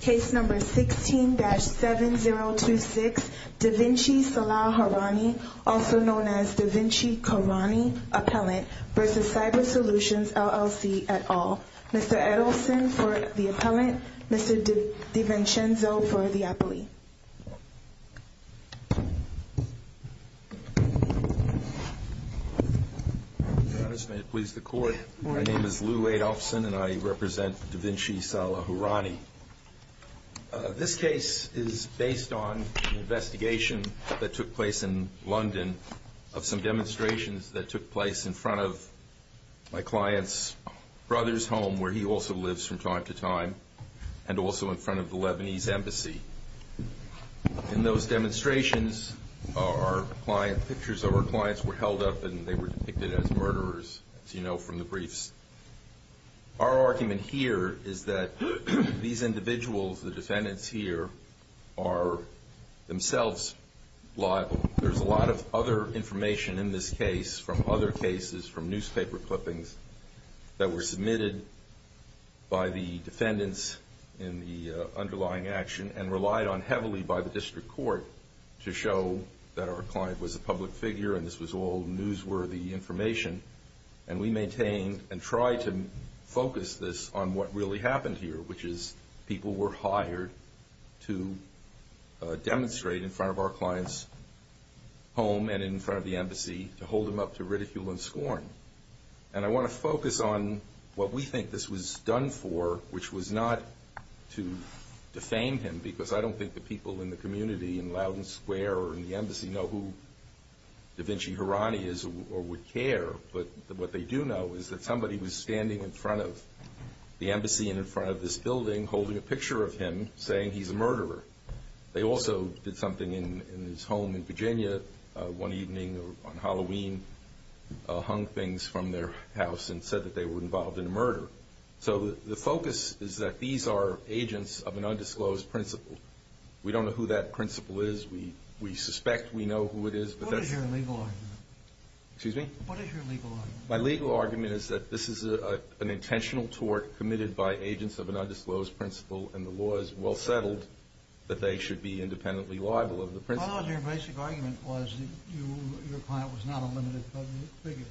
Case number 16-7026, DaVinci Salah Hourani, also known as DaVinci Hourani Appellant, v. Psybersolutions LLC et al. Mr. Edelson for the Appellant, Mr. DiVincenzo for the Appellant. Your Honors, may it please the Court, my name is Lew Edelson and I represent DaVinci Salah Hourani. This case is based on an investigation that took place in London of some demonstrations that took place in front of my client's brother's home, where he also lives from time to time, and also in front of the Lebanese Embassy. In those demonstrations, our client's pictures were held up and they were depicted as murderers, as you know from the briefs. Our argument here is that these individuals, the defendants here, are themselves liable. There's a lot of other information in this case from other cases, from newspaper clippings, that were submitted by the defendants in the underlying action and relied on heavily by the District Court to show that our client was a public figure and this was all newsworthy information. We maintain and try to focus this on what really happened here, which is people were hired to demonstrate in front of our client's home and in front of the Embassy to hold him up to ridicule and scorn. I want to focus on what we think this was done for, which was not to defame him, because I don't think the people in the community in Loudoun Square or in the Embassy know who DaVinci Hourani is or would care, but what they do know is that somebody was standing in front of the Embassy and in front of this building holding a picture of him saying he's a murderer. They also did something in his home in Virginia one evening on Halloween, hung things from their house and said that they were involved in a murder. So the focus is that these are agents of an undisclosed principle. We don't know who that principle is. We suspect we know who it is. What is your legal argument? Excuse me? What is your legal argument? My legal argument is that this is an intentional tort committed by agents of an undisclosed principle, and the law is well settled that they should be independently liable of the principle. My logic and basic argument was that your client was not a limited public figure.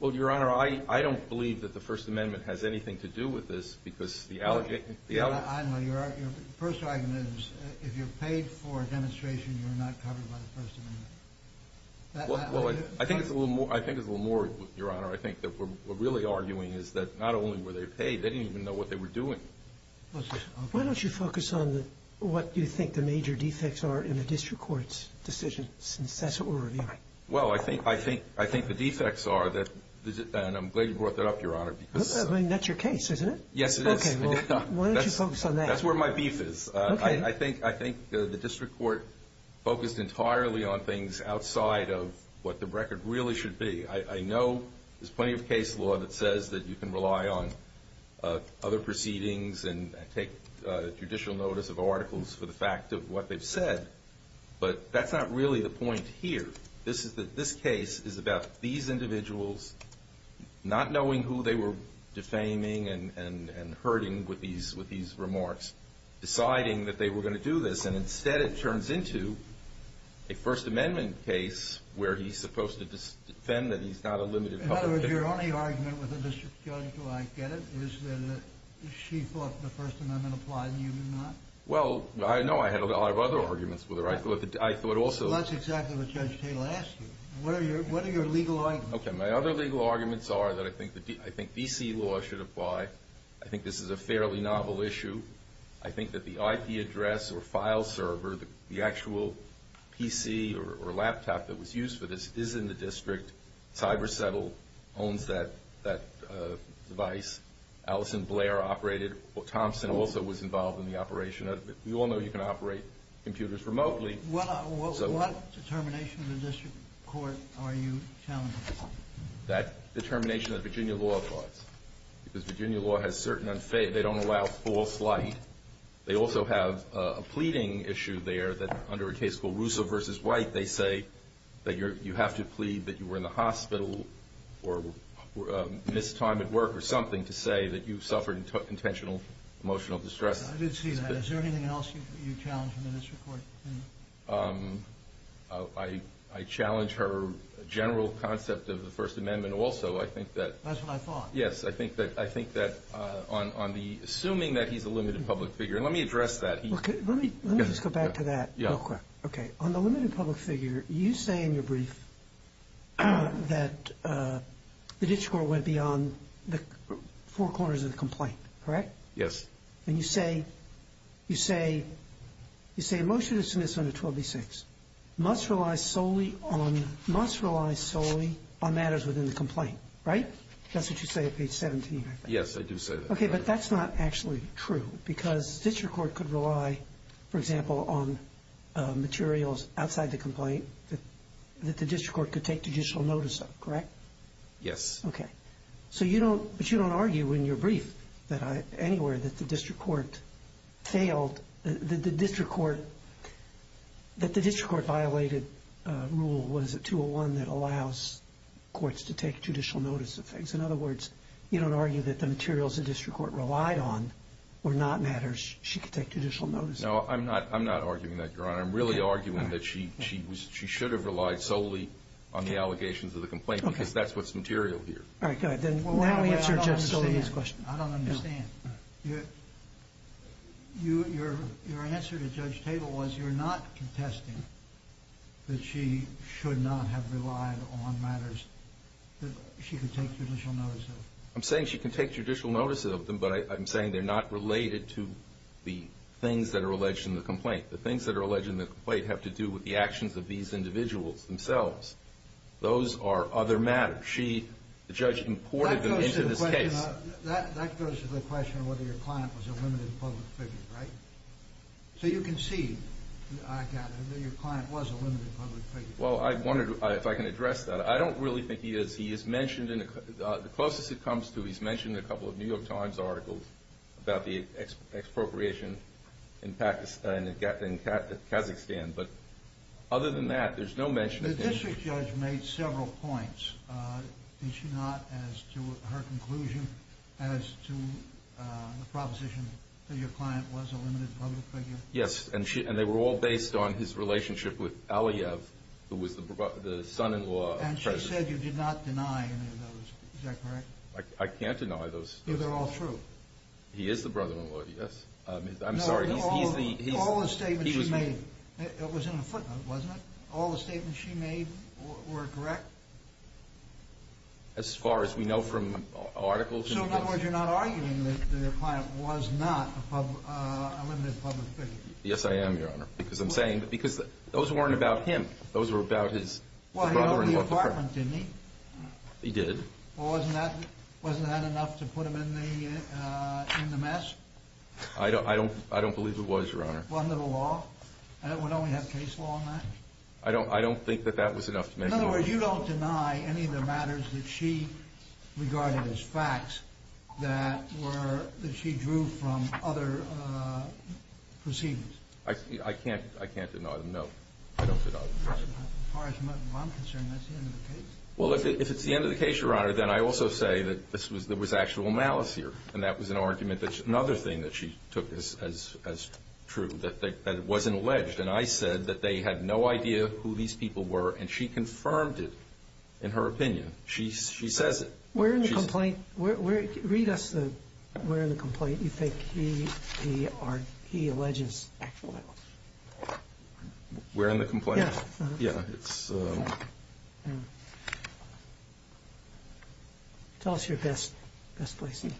Well, Your Honor, I don't believe that the First Amendment has anything to do with this, because the allegation… I know. Your first argument is if you're paid for a demonstration, you're not covered by the First Amendment. Well, I think it's a little more, Your Honor, I think that we're really arguing is that not only were they paid, they didn't even know what they were doing. Why don't you focus on what you think the major defects are in the district court's decision since that's what we're reviewing? Well, I think the defects are that, and I'm glad you brought that up, Your Honor, because… I mean, that's your case, isn't it? Yes, it is. Okay, well, why don't you focus on that? That's where my beef is. I think the district court focused entirely on things outside of what the record really should be. I know there's plenty of case law that says that you can rely on other proceedings and take judicial notice of articles for the fact of what they've said, but that's not really the point here. This case is about these individuals not knowing who they were defaming and hurting with these remarks, deciding that they were going to do this, and instead it turns into a First Amendment case where he's supposed to defend that he's not a limited public defender. In other words, your only argument with the district judge, who I get it, is that she thought the First Amendment applied and you did not? Well, I know I had a lot of other arguments with her. Well, that's exactly what Judge Tatel asked you. What are your legal arguments? Okay, my other legal arguments are that I think D.C. law should apply. I think this is a fairly novel issue. I think that the IP address or file server, the actual PC or laptop that was used for this, is in the district. CyberSettle owns that device. Allison Blair operated. Thompson also was involved in the operation of it. We all know you can operate computers remotely. What determination of the district court are you challenging? That determination that Virginia law applies, because Virginia law has certain unfaithfulness. They don't allow false light. They also have a pleading issue there that under a case called Russo v. White, they say that you have to plead that you were in the hospital or missed time at work or something to say that you suffered intentional emotional distress. I did see that. Is there anything else you challenge the district court? I challenge her general concept of the First Amendment also. That's what I thought. Yes, I think that on the assuming that he's a limited public figure, and let me address that. Let me just go back to that real quick. Okay. On the limited public figure, you say in your brief that the district court went beyond the four corners of the complaint. Correct? Yes. And you say a motion to submiss on 12B6 must rely solely on matters within the complaint. Right? That's what you say at page 17, I think. Yes, I do say that. Okay, but that's not actually true because district court could rely, for example, on materials outside the complaint that the district court could take judicial notice of. Correct? Yes. Okay. But you don't argue in your brief anywhere that the district court failed, that the district court violated Rule 201 that allows courts to take judicial notice of things. In other words, you don't argue that the materials the district court relied on were not matters she could take judicial notice of. No, I'm not arguing that, Your Honor. I'm really arguing that she should have relied solely on the allegations of the complaint because that's what's material here. All right, good. Then why don't we answer Judge Sotomayor's question. I don't understand. Your answer to Judge Table was you're not contesting that she should not have relied on matters that she could take judicial notice of. I'm saying she can take judicial notice of them, but I'm saying they're not related to the things that are alleged in the complaint. The things that are alleged in the complaint have to do with the actions of these individuals themselves. Those are other matters. She, the judge, imported them into this case. That goes to the question of whether your client was a limited public figure, right? So you can see, I gather, that your client was a limited public figure. Well, I wondered if I can address that. I don't really think he is. He is mentioned in the closest it comes to, he's mentioned in a couple of New York Times articles about the expropriation in Kazakhstan. But other than that, there's no mention of anything. The district judge made several points. Did she not, as to her conclusion, as to the proposition that your client was a limited public figure? Yes, and they were all based on his relationship with Aliyev, who was the son-in-law of President. And she said you did not deny any of those. Is that correct? I can't deny those. They're all true. He is the brother-in-law, yes. I'm sorry. All the statements she made, it was in a footnote, wasn't it? All the statements she made were correct? As far as we know from articles and details. So in other words, you're not arguing that your client was not a limited public figure? Yes, I am, Your Honor, because I'm saying, because those weren't about him. Those were about his brother-in-law. Well, he owned the apartment, didn't he? He did. Well, wasn't that enough to put him in the mess? I don't believe it was, Your Honor. Wasn't it a law? Wouldn't we have case law on that? I don't think that that was enough to mention. In other words, you don't deny any of the matters that she regarded as facts that she drew from other proceedings? I can't deny them, no. I don't deny them, Your Honor. As far as I'm concerned, that's the end of the case. Well, if it's the end of the case, Your Honor, then I also say that there was actual malice here, and that was an argument that's another thing that she took as true, that it wasn't alleged. And I said that they had no idea who these people were, and she confirmed it in her opinion. She says it. We're in the complaint. Read us the we're in the complaint. You think he alleges actual malice. We're in the complaint? Yeah. Yeah. Tell us your best placing.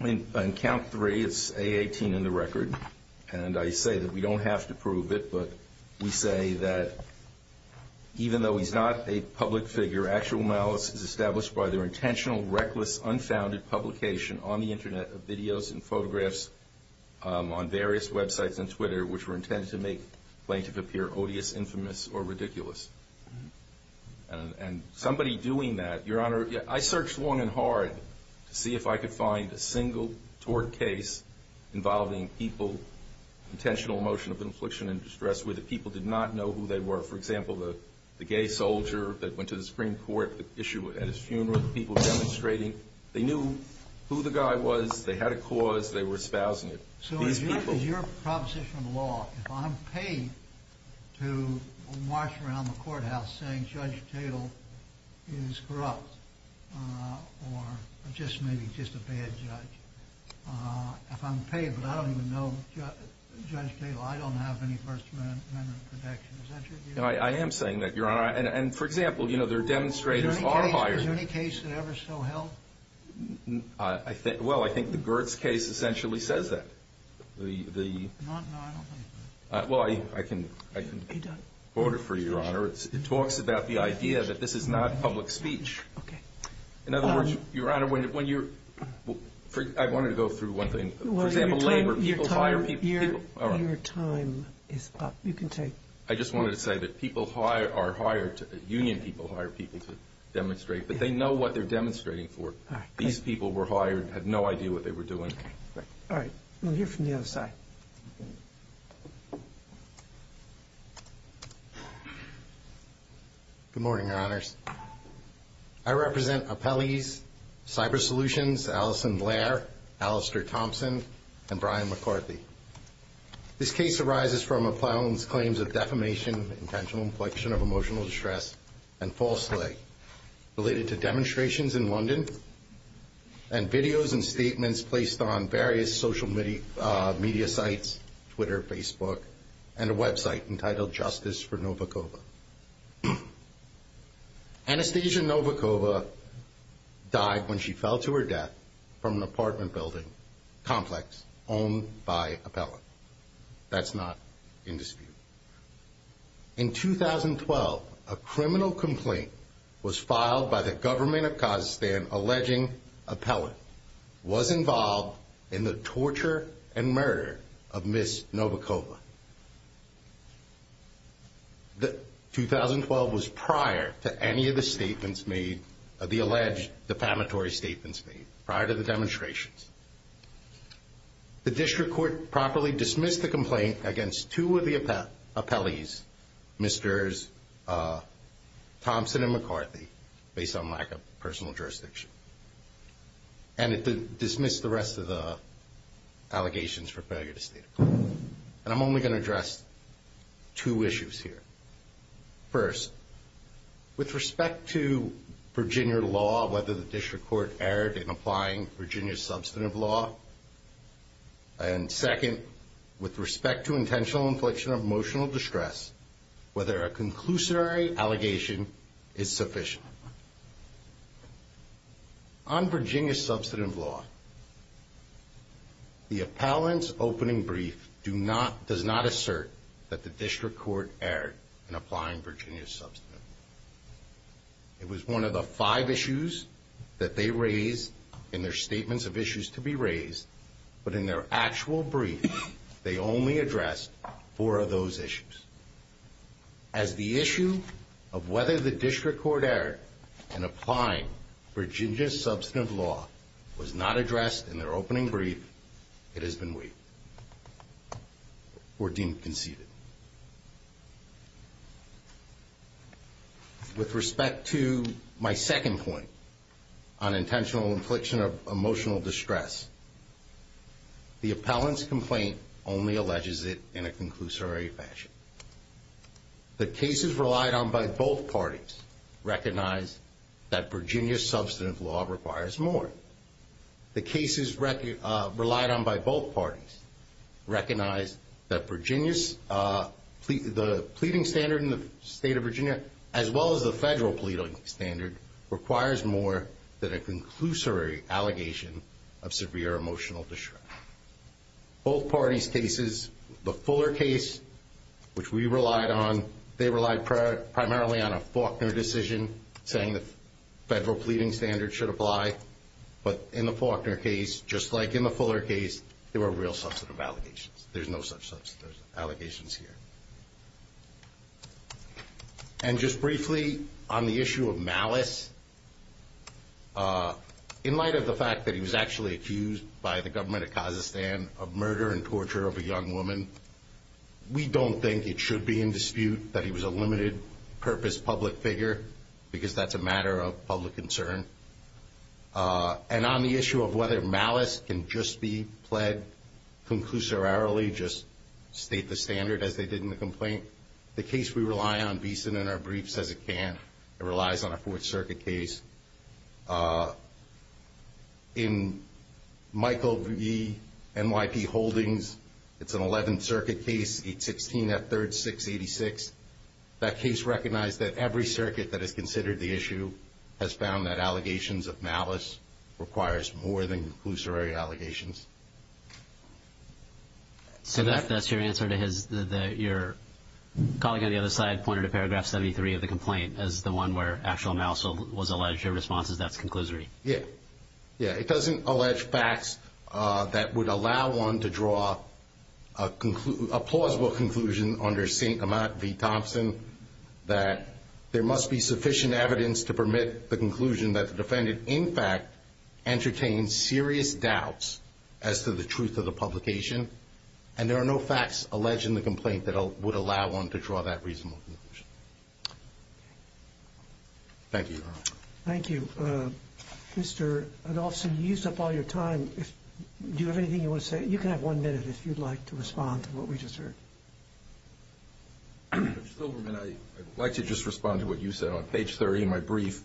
On count three, it's A18 in the record, and I say that we don't have to prove it, but we say that even though he's not a public figure, actual malice is established by their intentional, reckless, unfounded publication on the Internet of videos and photographs on various websites and Twitter, which were intended to make the plaintiff appear odious, infamous, or ridiculous. And somebody doing that, Your Honor, I searched long and hard to see if I could find a single tort case involving people, intentional motion of infliction and distress, where the people did not know who they were. For example, the gay soldier that went to the Supreme Court at his funeral, the people demonstrating. They knew who the guy was. They had a cause. They were espousing it. So is your proposition of law, if I'm paid to march around the courthouse saying Judge Tatel is corrupt, or just maybe just a bad judge, if I'm paid but I don't even know Judge Tatel, I don't have any first amendment protection, is that true? I am saying that, Your Honor. And, for example, there are demonstrators far higher. Is there any case that ever so held? Well, I think the Gertz case essentially says that. No, I don't think so. Well, I can quote it for you, Your Honor. It talks about the idea that this is not public speech. Okay. In other words, Your Honor, I wanted to go through one thing. For example, labor people hire people. Your time is up. You can take it. I just wanted to say that people are hired, union people hire people to demonstrate, but they know what they're demonstrating for. These people were hired, had no idea what they were doing. All right. We'll hear from the other side. Good morning, Your Honors. I represent Appellees, Cyber Solutions, Alison Blair, Alistair Thompson, and Brian McCarthy. This case arises from a plowman's claims of defamation, intentional inflection of emotional distress, and false slay related to demonstrations in London and videos and statements placed on various social media sites, Twitter, Facebook, and a website entitled Justice for Novikova. Anastasia Novikova died when she fell to her death from an apartment building complex owned by appellant. That's not in dispute. In 2012, a criminal complaint was filed by the government of Kazakhstan alleging appellant was involved in the torture and murder of Ms. Novikova. 2012 was prior to any of the statements made, the alleged defamatory statements made, prior to the demonstrations. The district court properly dismissed the complaint against two of the appellees, Mr. Thompson and McCarthy, based on lack of personal jurisdiction, and it dismissed the rest of the allegations for failure to state a complaint. And I'm only going to address two issues here. First, with respect to Virginia law, whether the district court erred in applying Virginia substantive law, and second, with respect to intentional inflection of emotional distress, whether a conclusionary allegation is sufficient. On Virginia substantive law, the appellant's opening brief does not assert that the district court erred in applying Virginia substantive law. It was one of the five issues that they raised in their statements of issues to be raised, but in their actual brief, they only addressed four of those issues. As the issue of whether the district court erred in applying Virginia substantive law was not addressed in their opening brief, it has been waived or deemed conceded. With respect to my second point on intentional inflection of emotional distress, the appellant's complaint only alleges it in a conclusory fashion. The cases relied on by both parties recognize that Virginia substantive law requires more. The cases relied on by both parties recognize that the pleading standard in the state of Virginia, as well as the federal pleading standard, requires more than a conclusory allegation of severe emotional distress. Both parties' cases, the Fuller case, which we relied on, they relied primarily on a Faulkner decision saying the federal pleading standard should apply, but in the Faulkner case, just like in the Fuller case, there were real substantive allegations. There's no such allegations here. And just briefly, on the issue of malice, in light of the fact that he was actually accused by the government of Kazakhstan of murder and torture of a young woman, we don't think it should be in dispute that he was a limited purpose public figure because that's a matter of public concern. And on the issue of whether malice can just be pled conclusorially, just state the standard as they did in the complaint, the case we rely on, Beeson, in our briefs, says it can. It relies on a Fourth Circuit case. In Michael V. NYP Holdings, it's an Eleventh Circuit case, 816 F. 3rd, 686. That case recognized that every circuit that has considered the issue has found that allegations of malice requires more than conclusory allegations. So that's your answer to your colleague on the other side, pointed to paragraph 73 of the complaint as the one where actual malice was alleged. Your response is that's conclusory. Yeah. Yeah, it doesn't allege facts that would allow one to draw a plausible conclusion under St. Amant v. Thompson that there must be sufficient evidence to permit the conclusion that the defendant, in fact, entertained serious doubts as to the truth of the publication, and there are no facts alleged in the complaint that would allow one to draw that reasonable conclusion. Thank you, Your Honor. Thank you. Mr. Adolphson, you used up all your time. Do you have anything you want to say? You can have one minute if you'd like to respond to what we just heard. Judge Silberman, I'd like to just respond to what you said on page 30 in my brief,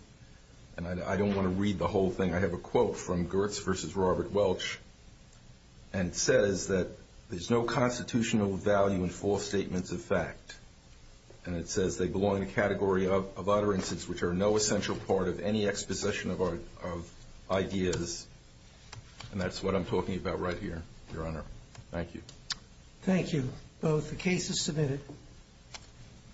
and I don't want to read the whole thing. I have a quote from Gertz v. Robert Welch, and it says that there's no constitutional value in false statements of fact, and it says they belong to a category of utterances which are no essential part of any exposition of ideas, and that's what I'm talking about right here, Your Honor. Thank you. Thank you. The case is submitted.